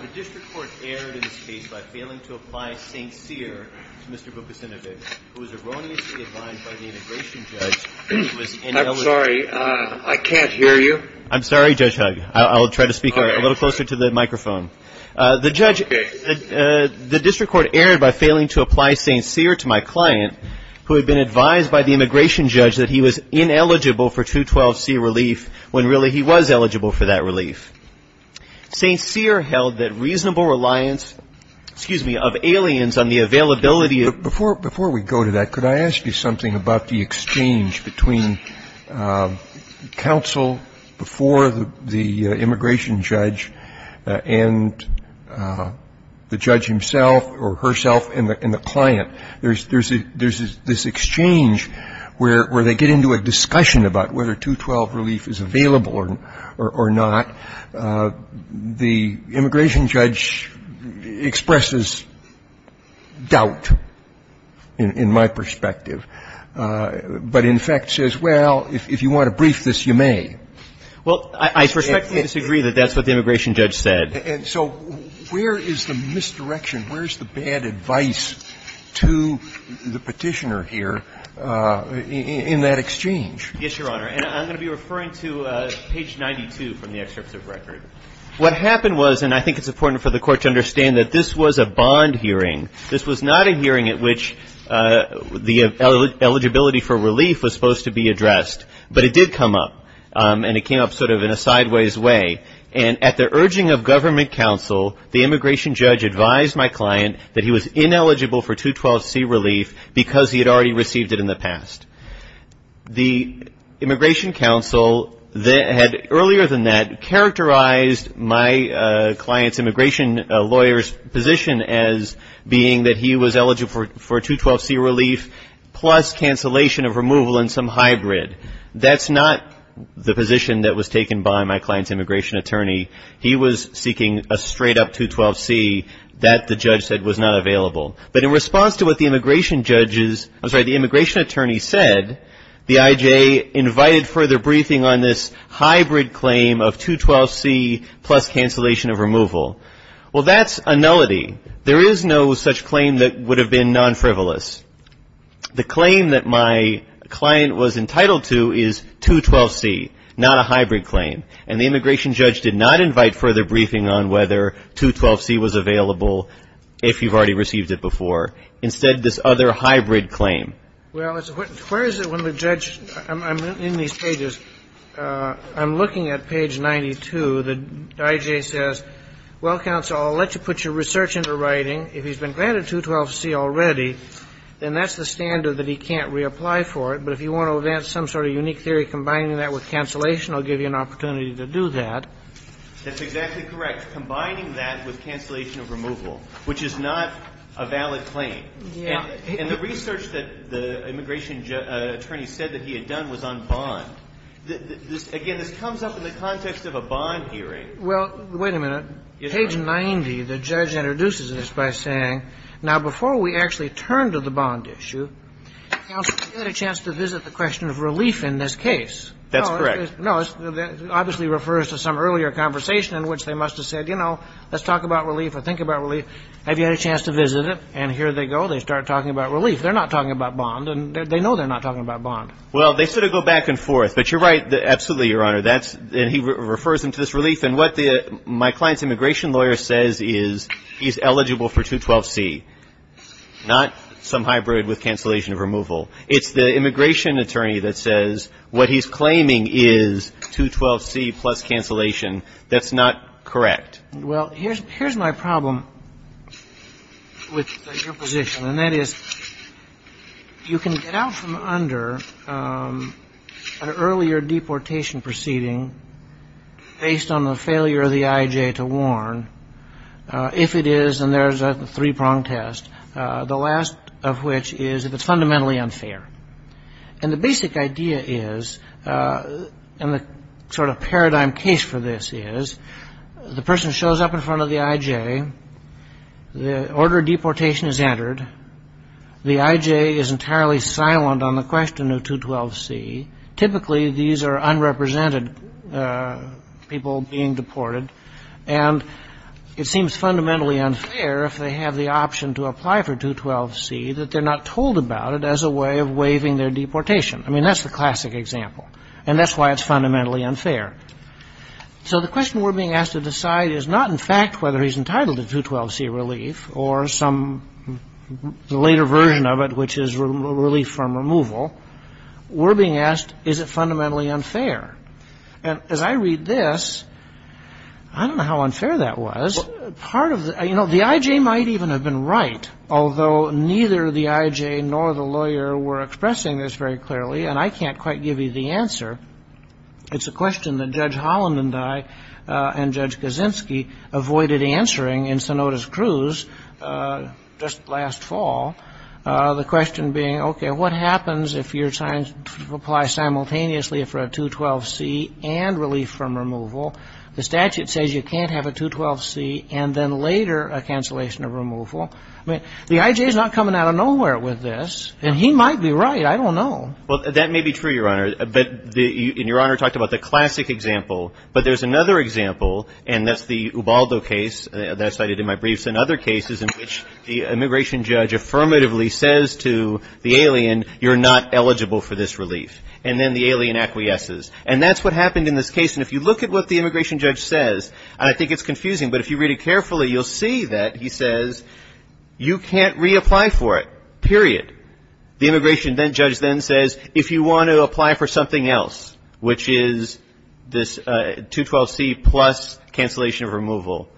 The District Court erred in this case by failing to apply St. Cyr to Mr. Vukasinovic, who was advised by the immigration judge that he was ineligible for 212C relief, when really he was eligible for that relief. St. Cyr held that reasonable reliance of aliens on the availability of 212C relief. The immigration judge expressed his doubt about whether 212C relief was available or not, and he said, well, before we go to that, could I ask you something about the exchange between counsel before the immigration judge and the judge himself or herself and the client? There's this exchange where they get into a discussion about whether 212 relief is available or not. The immigration judge expresses doubt, in my perspective, but in fact says, well, if you want to brief this, you may. Roberts. Well, I respectfully disagree that that's what the immigration judge said. And so where is the misdirection, where is the bad advice to the Petitioner here in that exchange? Yes, Your Honor. And I'm going to be referring to page 92 from the excerpt of the record. What happened was, and I think it's important for the Court to understand that this was a bond hearing. This was not a hearing at which the eligibility for relief was supposed to be addressed, but it did come up. And it came up sort of in a sideways way. And at the urging of government counsel, the immigration judge advised my client that he was ineligible for 212C relief because he had already received it in the past. The immigration counsel had earlier than that characterized my client's immigration lawyer's position as being that he was eligible for 212C relief plus cancellation of removal and some hybrid. That's not the position that was taken by my client's immigration attorney. He was seeking a straight-up 212C that the judge said was not available. But in response to what the immigration judge's, I'm sorry, the immigration attorney said, the IJ invited further briefing on this hybrid claim of 212C plus cancellation of removal. Well, that's a nullity. There is no such claim that would have been non-frivolous. The claim that my client was entitled to is 212C, not a hybrid claim. And the immigration judge did not invite further briefing on whether 212C was available, if you've already received it before. Instead, this other hybrid claim. Well, where is it when the judge, I'm in these pages, I'm looking at page 92. The IJ says, well, counsel, I'll let you put your research into writing. If he's been granted 212C already, then that's the standard that he can't reapply for it. But if you want to advance some sort of unique theory combining that with cancellation, I'll give you an opportunity to do that. That's exactly correct. Combining that with cancellation of removal, which is not a valid claim. And the research that the immigration attorney said that he had done was on bond. Again, this comes up in the context of a bond hearing. Well, wait a minute. Page 90, the judge introduces this by saying, now, before we actually turn to the bond issue, counsel, you had a chance to visit the question of relief in this case. That's correct. No, it obviously refers to some earlier conversation in which they must have said, you know, let's talk about relief or think about relief. Have you had a chance to visit it? And here they go. They start talking about relief. They're not talking about bond. And they know they're not talking about bond. Well, they sort of go back and forth. But you're right. Absolutely, Your Honor. And he refers them to this relief. And what my client's immigration lawyer says is he's eligible for 212C, not some hybrid with cancellation of removal. It's the immigration attorney that says what he's claiming is 212C plus cancellation. That's not correct. Well, here's my problem with your position. And that is, you can get out from under an earlier deportation proceeding based on the failure of the IJ to warn if it is, and there's a three-pronged test, the last of which is if it's fundamentally unfair. And the basic idea is, and the sort of paradigm case for this is, the person shows up in front of the IJ. The order of deportation is entered. The IJ is entirely silent on the question of 212C. Typically, these are unrepresented people being deported. And it seems fundamentally unfair if they have the option to apply for 212C that they're not told about it as a way of waiving their deportation. I mean, that's the classic example. And that's why it's fundamentally unfair. So the question we're being asked to decide is not, in fact, whether he's entitled to 212C relief or some later version of it, which is relief from removal. We're being asked, is it fundamentally unfair? And as I read this, I don't know how unfair that was. Part of the, you know, the IJ might even have been right, although neither the IJ nor the lawyer were expressing this very clearly. And I can't quite give you the answer. It's a question that Judge Holland and I and Judge Kaczynski avoided answering in Cenotis Cruz just last fall. The question being, okay, what happens if your signs apply simultaneously for a 212C and relief from removal? The statute says you can't have a 212C and then later a cancellation of removal. I mean, the IJ is not coming out of nowhere with this. And he might be right. I don't know. Well, that may be true, Your Honor. But the — and Your Honor talked about the classic example. But there's another example, and that's the Ubaldo case that I cited in my briefs and other cases in which the immigration judge affirmatively says to the alien, you're not eligible for this relief. And then the alien acquiesces. And that's what happened in this case. And if you look at what the immigration judge says, and I think it's confusing, but if you read it carefully, you'll see that he says, you can't reapply for it, period. The immigration judge then says, if you want to apply for something else, which is this 212C plus cancellation of removal,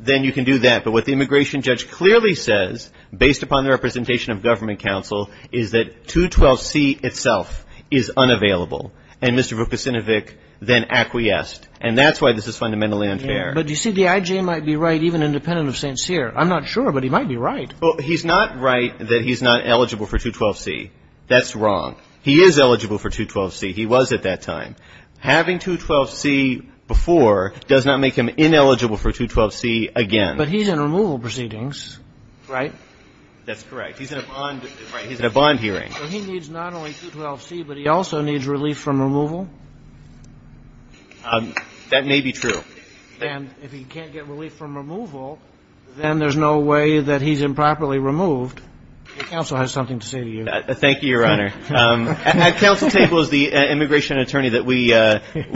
then you can do that. But what the immigration judge clearly says, based upon the representation of government counsel, is that 212C itself is unavailable. And Mr. Vukosinovic then acquiesced. And that's why this is fundamentally unfair. But you see, the IJ might be right even independent of St. Cyr. I'm not sure, but he might be right. Well, he's not right that he's not eligible for 212C. That's wrong. He is eligible for 212C. He was at that time. Having 212C before does not make him ineligible for 212C again. But he's in removal proceedings, right? That's correct. He's in a bond hearing. So he needs not only 212C, but he also needs relief from removal? That may be true. And if he can't get relief from removal, then there's no way that he's improperly removed. The counsel has something to say to you. Thank you, Your Honor. Counsel Tinkle is the immigration attorney that we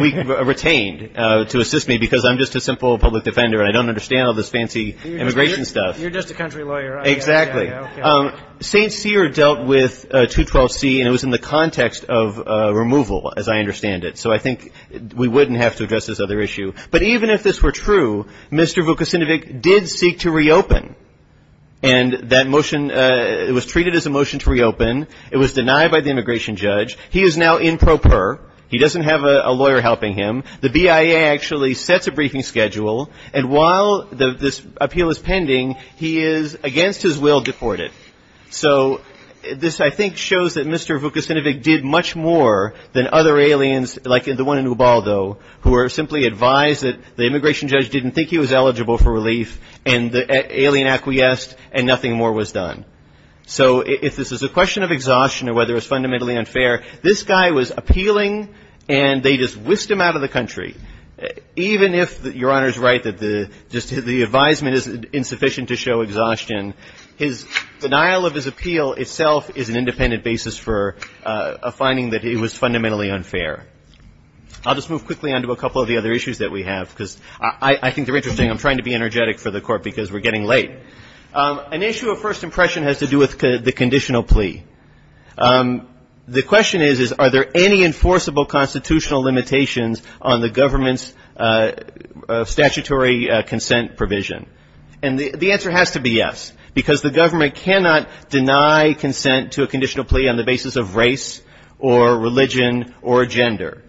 retained to assist me because I'm just a simple public defender. I don't understand all this fancy immigration stuff. You're just a country lawyer. Exactly. St. Cyr dealt with 212C, and it was in the context of removal, as I understand it. So I think we wouldn't have to address this other issue. But even if this were true, Mr. Vukosinovic did seek to reopen. And that motion, it was treated as a motion to reopen. It was denied by the immigration judge. He is now in pro per. He doesn't have a lawyer helping him. The BIA actually sets a briefing schedule. And while this appeal is pending, he is, against his will, deported. So this, I think, shows that Mr. Vukosinovic did much more than other aliens, like the one in Ubaldo, who were simply advised that the immigration judge didn't think he was eligible for relief, and the alien acquiesced, and nothing more was done. So if this is a question of exhaustion or whether it's fundamentally unfair, this guy was appealing, and they just whisked him out of the country. Even if, Your Honor's right, that the advisement is insufficient to show exhaustion, his denial of his appeal itself is an independent basis for a finding that it was fundamentally unfair. I'll just move quickly on to a couple of the other issues that we have, because I think they're interesting. I'm trying to be energetic for the Court, because we're getting late. An issue of first impression has to do with the conditional plea. The question is, are there any enforceable constitutional limitations on the government's statutory consent provision? And the answer has to be yes, because the government cannot deny consent to a conditional plea on the basis of race, or religion, or gender.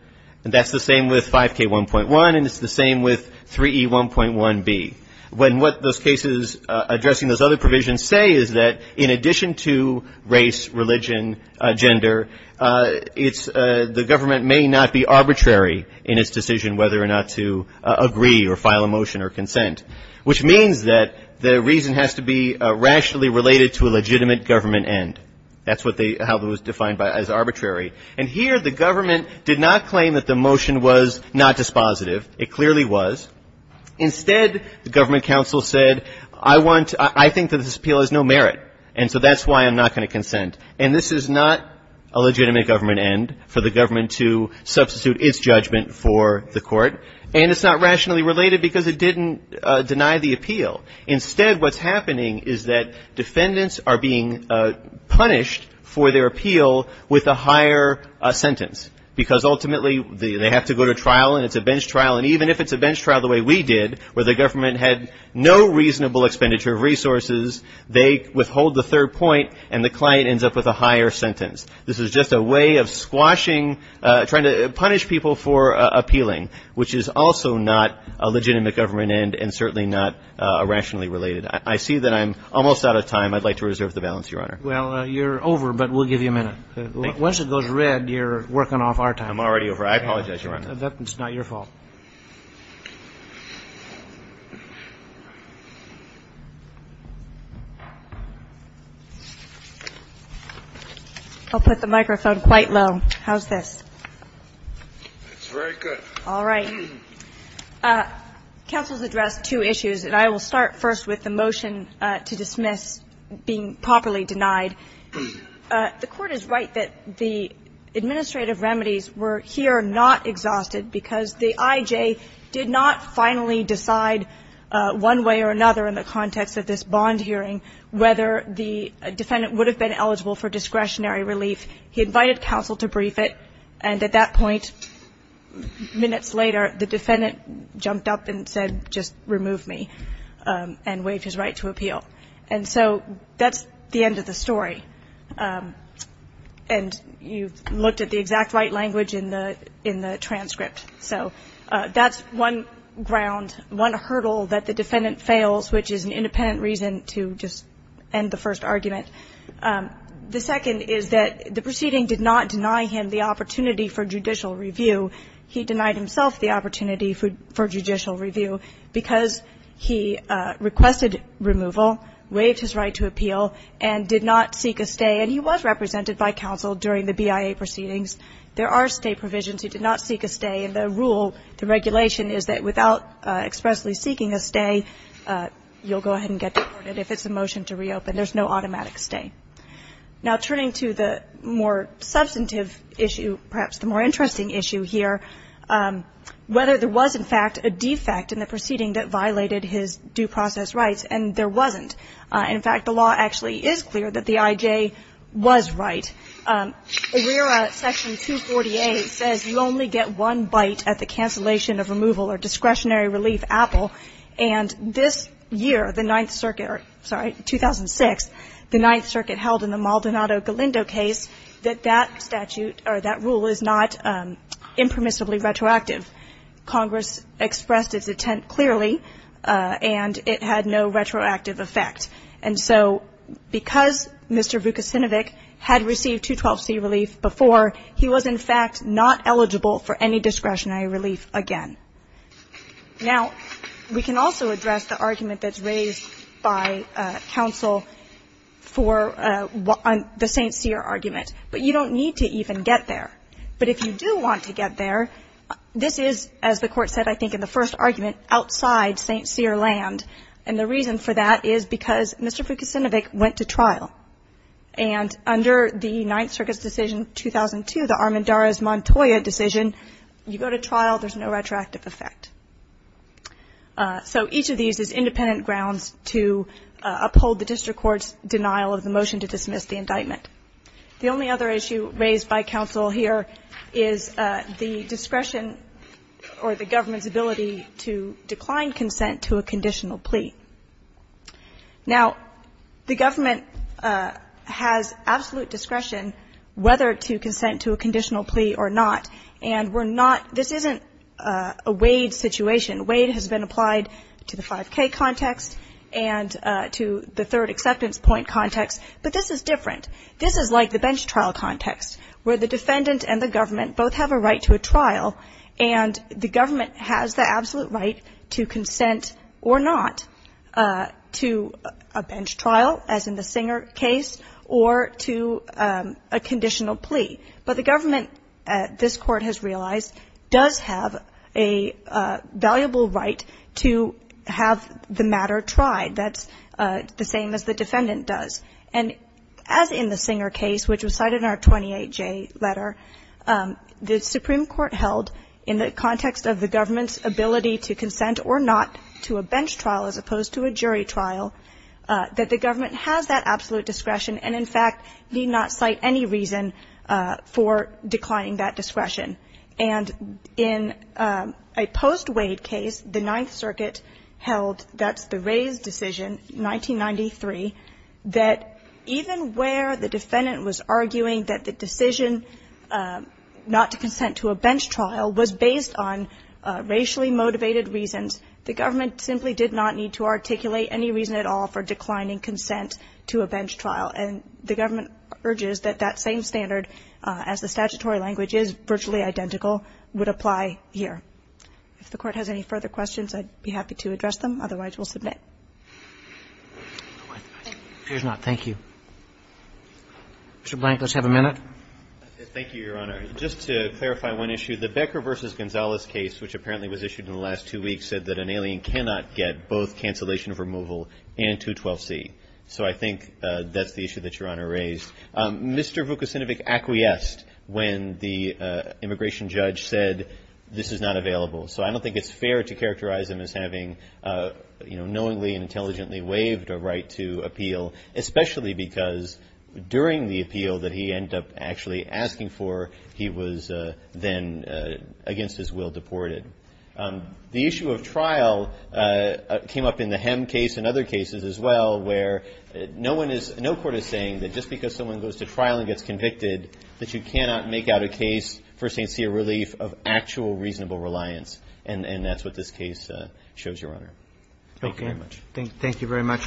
And that's the same with 5K1.1, and it's the same with 3E1.1b. When what those cases addressing those other provisions say is that in addition to race, religion, gender, it's, the government may not be arbitrary in its decision whether or not to agree or file a motion or consent, which means that the reason has to be rationally related to a legitimate government end. That's how it was defined as arbitrary. And here, the government did not claim that the motion was not dispositive. It clearly was. Instead, the government counsel said, I think that this appeal has no merit, and so that's why I'm not going to consent. And this is not a legitimate government end for the government to substitute its judgment for the Court. And it's not rationally related, because it didn't deny the appeal. Instead, what's happening is that defendants are being punished for their appeal with a higher sentence. Because ultimately, they have to go to trial, and it's a bench trial. And even if it's a bench trial the way we did, where the government had no reasonable expenditure of resources, they withhold the third point, and the client ends up with a higher sentence. This is just a way of squashing, trying to punish people for appealing, which is also not a legitimate government end and certainly not rationally related. I see that I'm almost out of time. I'd like to reserve the balance, Your Honor. Well, you're over, but we'll give you a minute. Once it goes red, you're working off our time. I'm already over. I apologize, Your Honor. That's not your fault. I'll put the microphone quite low. How's this? It's very good. All right. Counsel's addressed two issues, and I will start first with the motion to dismiss being properly denied. The Court is right that the administrative remedies were here not exhausted because the IJ did not finally decide one way or another in the context of this bond hearing whether the defendant would have been eligible for discretionary relief. He invited counsel to brief it, and at that point, minutes later, the defendant jumped up and said, just remove me, and waived his right to appeal. And so that's the end of the story. And you've looked at the exact right language in the transcript. So that's one ground, one hurdle that the defendant fails, which is an independent reason to just end the first argument. The second is that the proceeding did not deny him the opportunity for judicial review. He denied himself the opportunity for judicial review because he requested removal, waived his right to appeal, and did not seek a stay. And he was represented by counsel during the BIA proceedings. There are stay provisions. He did not seek a stay. And the rule, the regulation, is that without expressly seeking a stay, you'll go ahead and get deported if it's a motion to reopen. And there's no automatic stay. Now, turning to the more substantive issue, perhaps the more interesting issue here, whether there was, in fact, a defect in the proceeding that violated his due process rights. And there wasn't. In fact, the law actually is clear that the IJ was right. ARERA Section 248 says you only get one bite at the cancellation of removal or discretionary relief apple. And this year, the Ninth Circuit or, sorry, 2006, the Ninth Circuit held in the Maldonado-Galindo case that that statute or that rule is not impermissibly retroactive. Congress expressed its intent clearly, and it had no retroactive effect. And so because Mr. Vukosinovic had received 212C relief before, he was, in fact, not eligible for any discretionary relief again. Now, we can also address the argument that's raised by counsel for the St. Cyr argument. But you don't need to even get there. But if you do want to get there, this is, as the Court said, I think, in the first argument, outside St. Cyr land. And the reason for that is because Mr. Vukosinovic went to trial. And under the Ninth Circuit's decision, 2002, the Armendariz-Montoya decision, you go to trial, there's no retroactive effect. So each of these is independent grounds to uphold the district court's denial of the motion to dismiss the indictment. The only other issue raised by counsel here is the discretion or the government's ability to decline consent to a conditional plea. Now, the government has absolute discretion whether to consent to a conditional plea or not, and we're not — this isn't a Wade situation. Wade has been applied to the 5K context and to the Third Acceptance Point context. But this is different. This is like the bench trial context, where the defendant and the government both have a right to a trial, and the government has the absolute right to consent or not to a bench trial, as in the Singer case, or to a conditional plea. But the government, this Court has realized, does have a valuable right to have the matter tried. That's the same as the defendant does. And as in the Singer case, which was cited in our 28J letter, the Supreme Court held, in the context of the government's ability to consent or not to a bench trial as opposed to a jury trial, that the government has that absolute discretion and, in fact, need not cite any reason for declining that discretion. And in a post-Wade case, the Ninth Circuit held — that's the Rays' decision, 1993 — that even where the defendant was arguing that the decision not to consent to a bench trial was based on racially motivated reasons, the government simply did not need to articulate any reason at all for declining consent to a bench trial. And the government urges that that same standard, as the statutory language is virtually identical, would apply here. If the Court has any further questions, I'd be happy to address them. Otherwise, we'll submit. Thank you. Mr. Blank, let's have a minute. Thank you, Your Honor. Just to clarify one issue. The Becker v. Gonzalez case, which apparently was issued in the last two weeks, said that an alien cannot get both cancellation of removal and 212C. So I think that's the issue that Your Honor raised. Mr. Vukosinovic acquiesced when the immigration judge said, this is not available. So I don't think it's fair to characterize him as having, you know, knowingly and intelligently waived a right to appeal, especially because during the appeal that he ended up actually asking for, he was then, against his will, deported. The issue of trial came up in the Hemm case and other cases as well, where no court is saying that just because someone goes to trial and gets convicted, that you cannot make out a case for sincere relief of actual reasonable reliance. And that's what this case shows, Your Honor. Thank you very much. Thank you very much.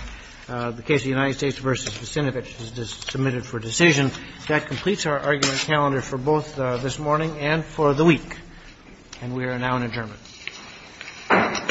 The case of the United States v. Vukosinovic is submitted for decision. That completes our argument calendar for both this morning and for the week. And we are now in adjournment. Thank you. Thank you.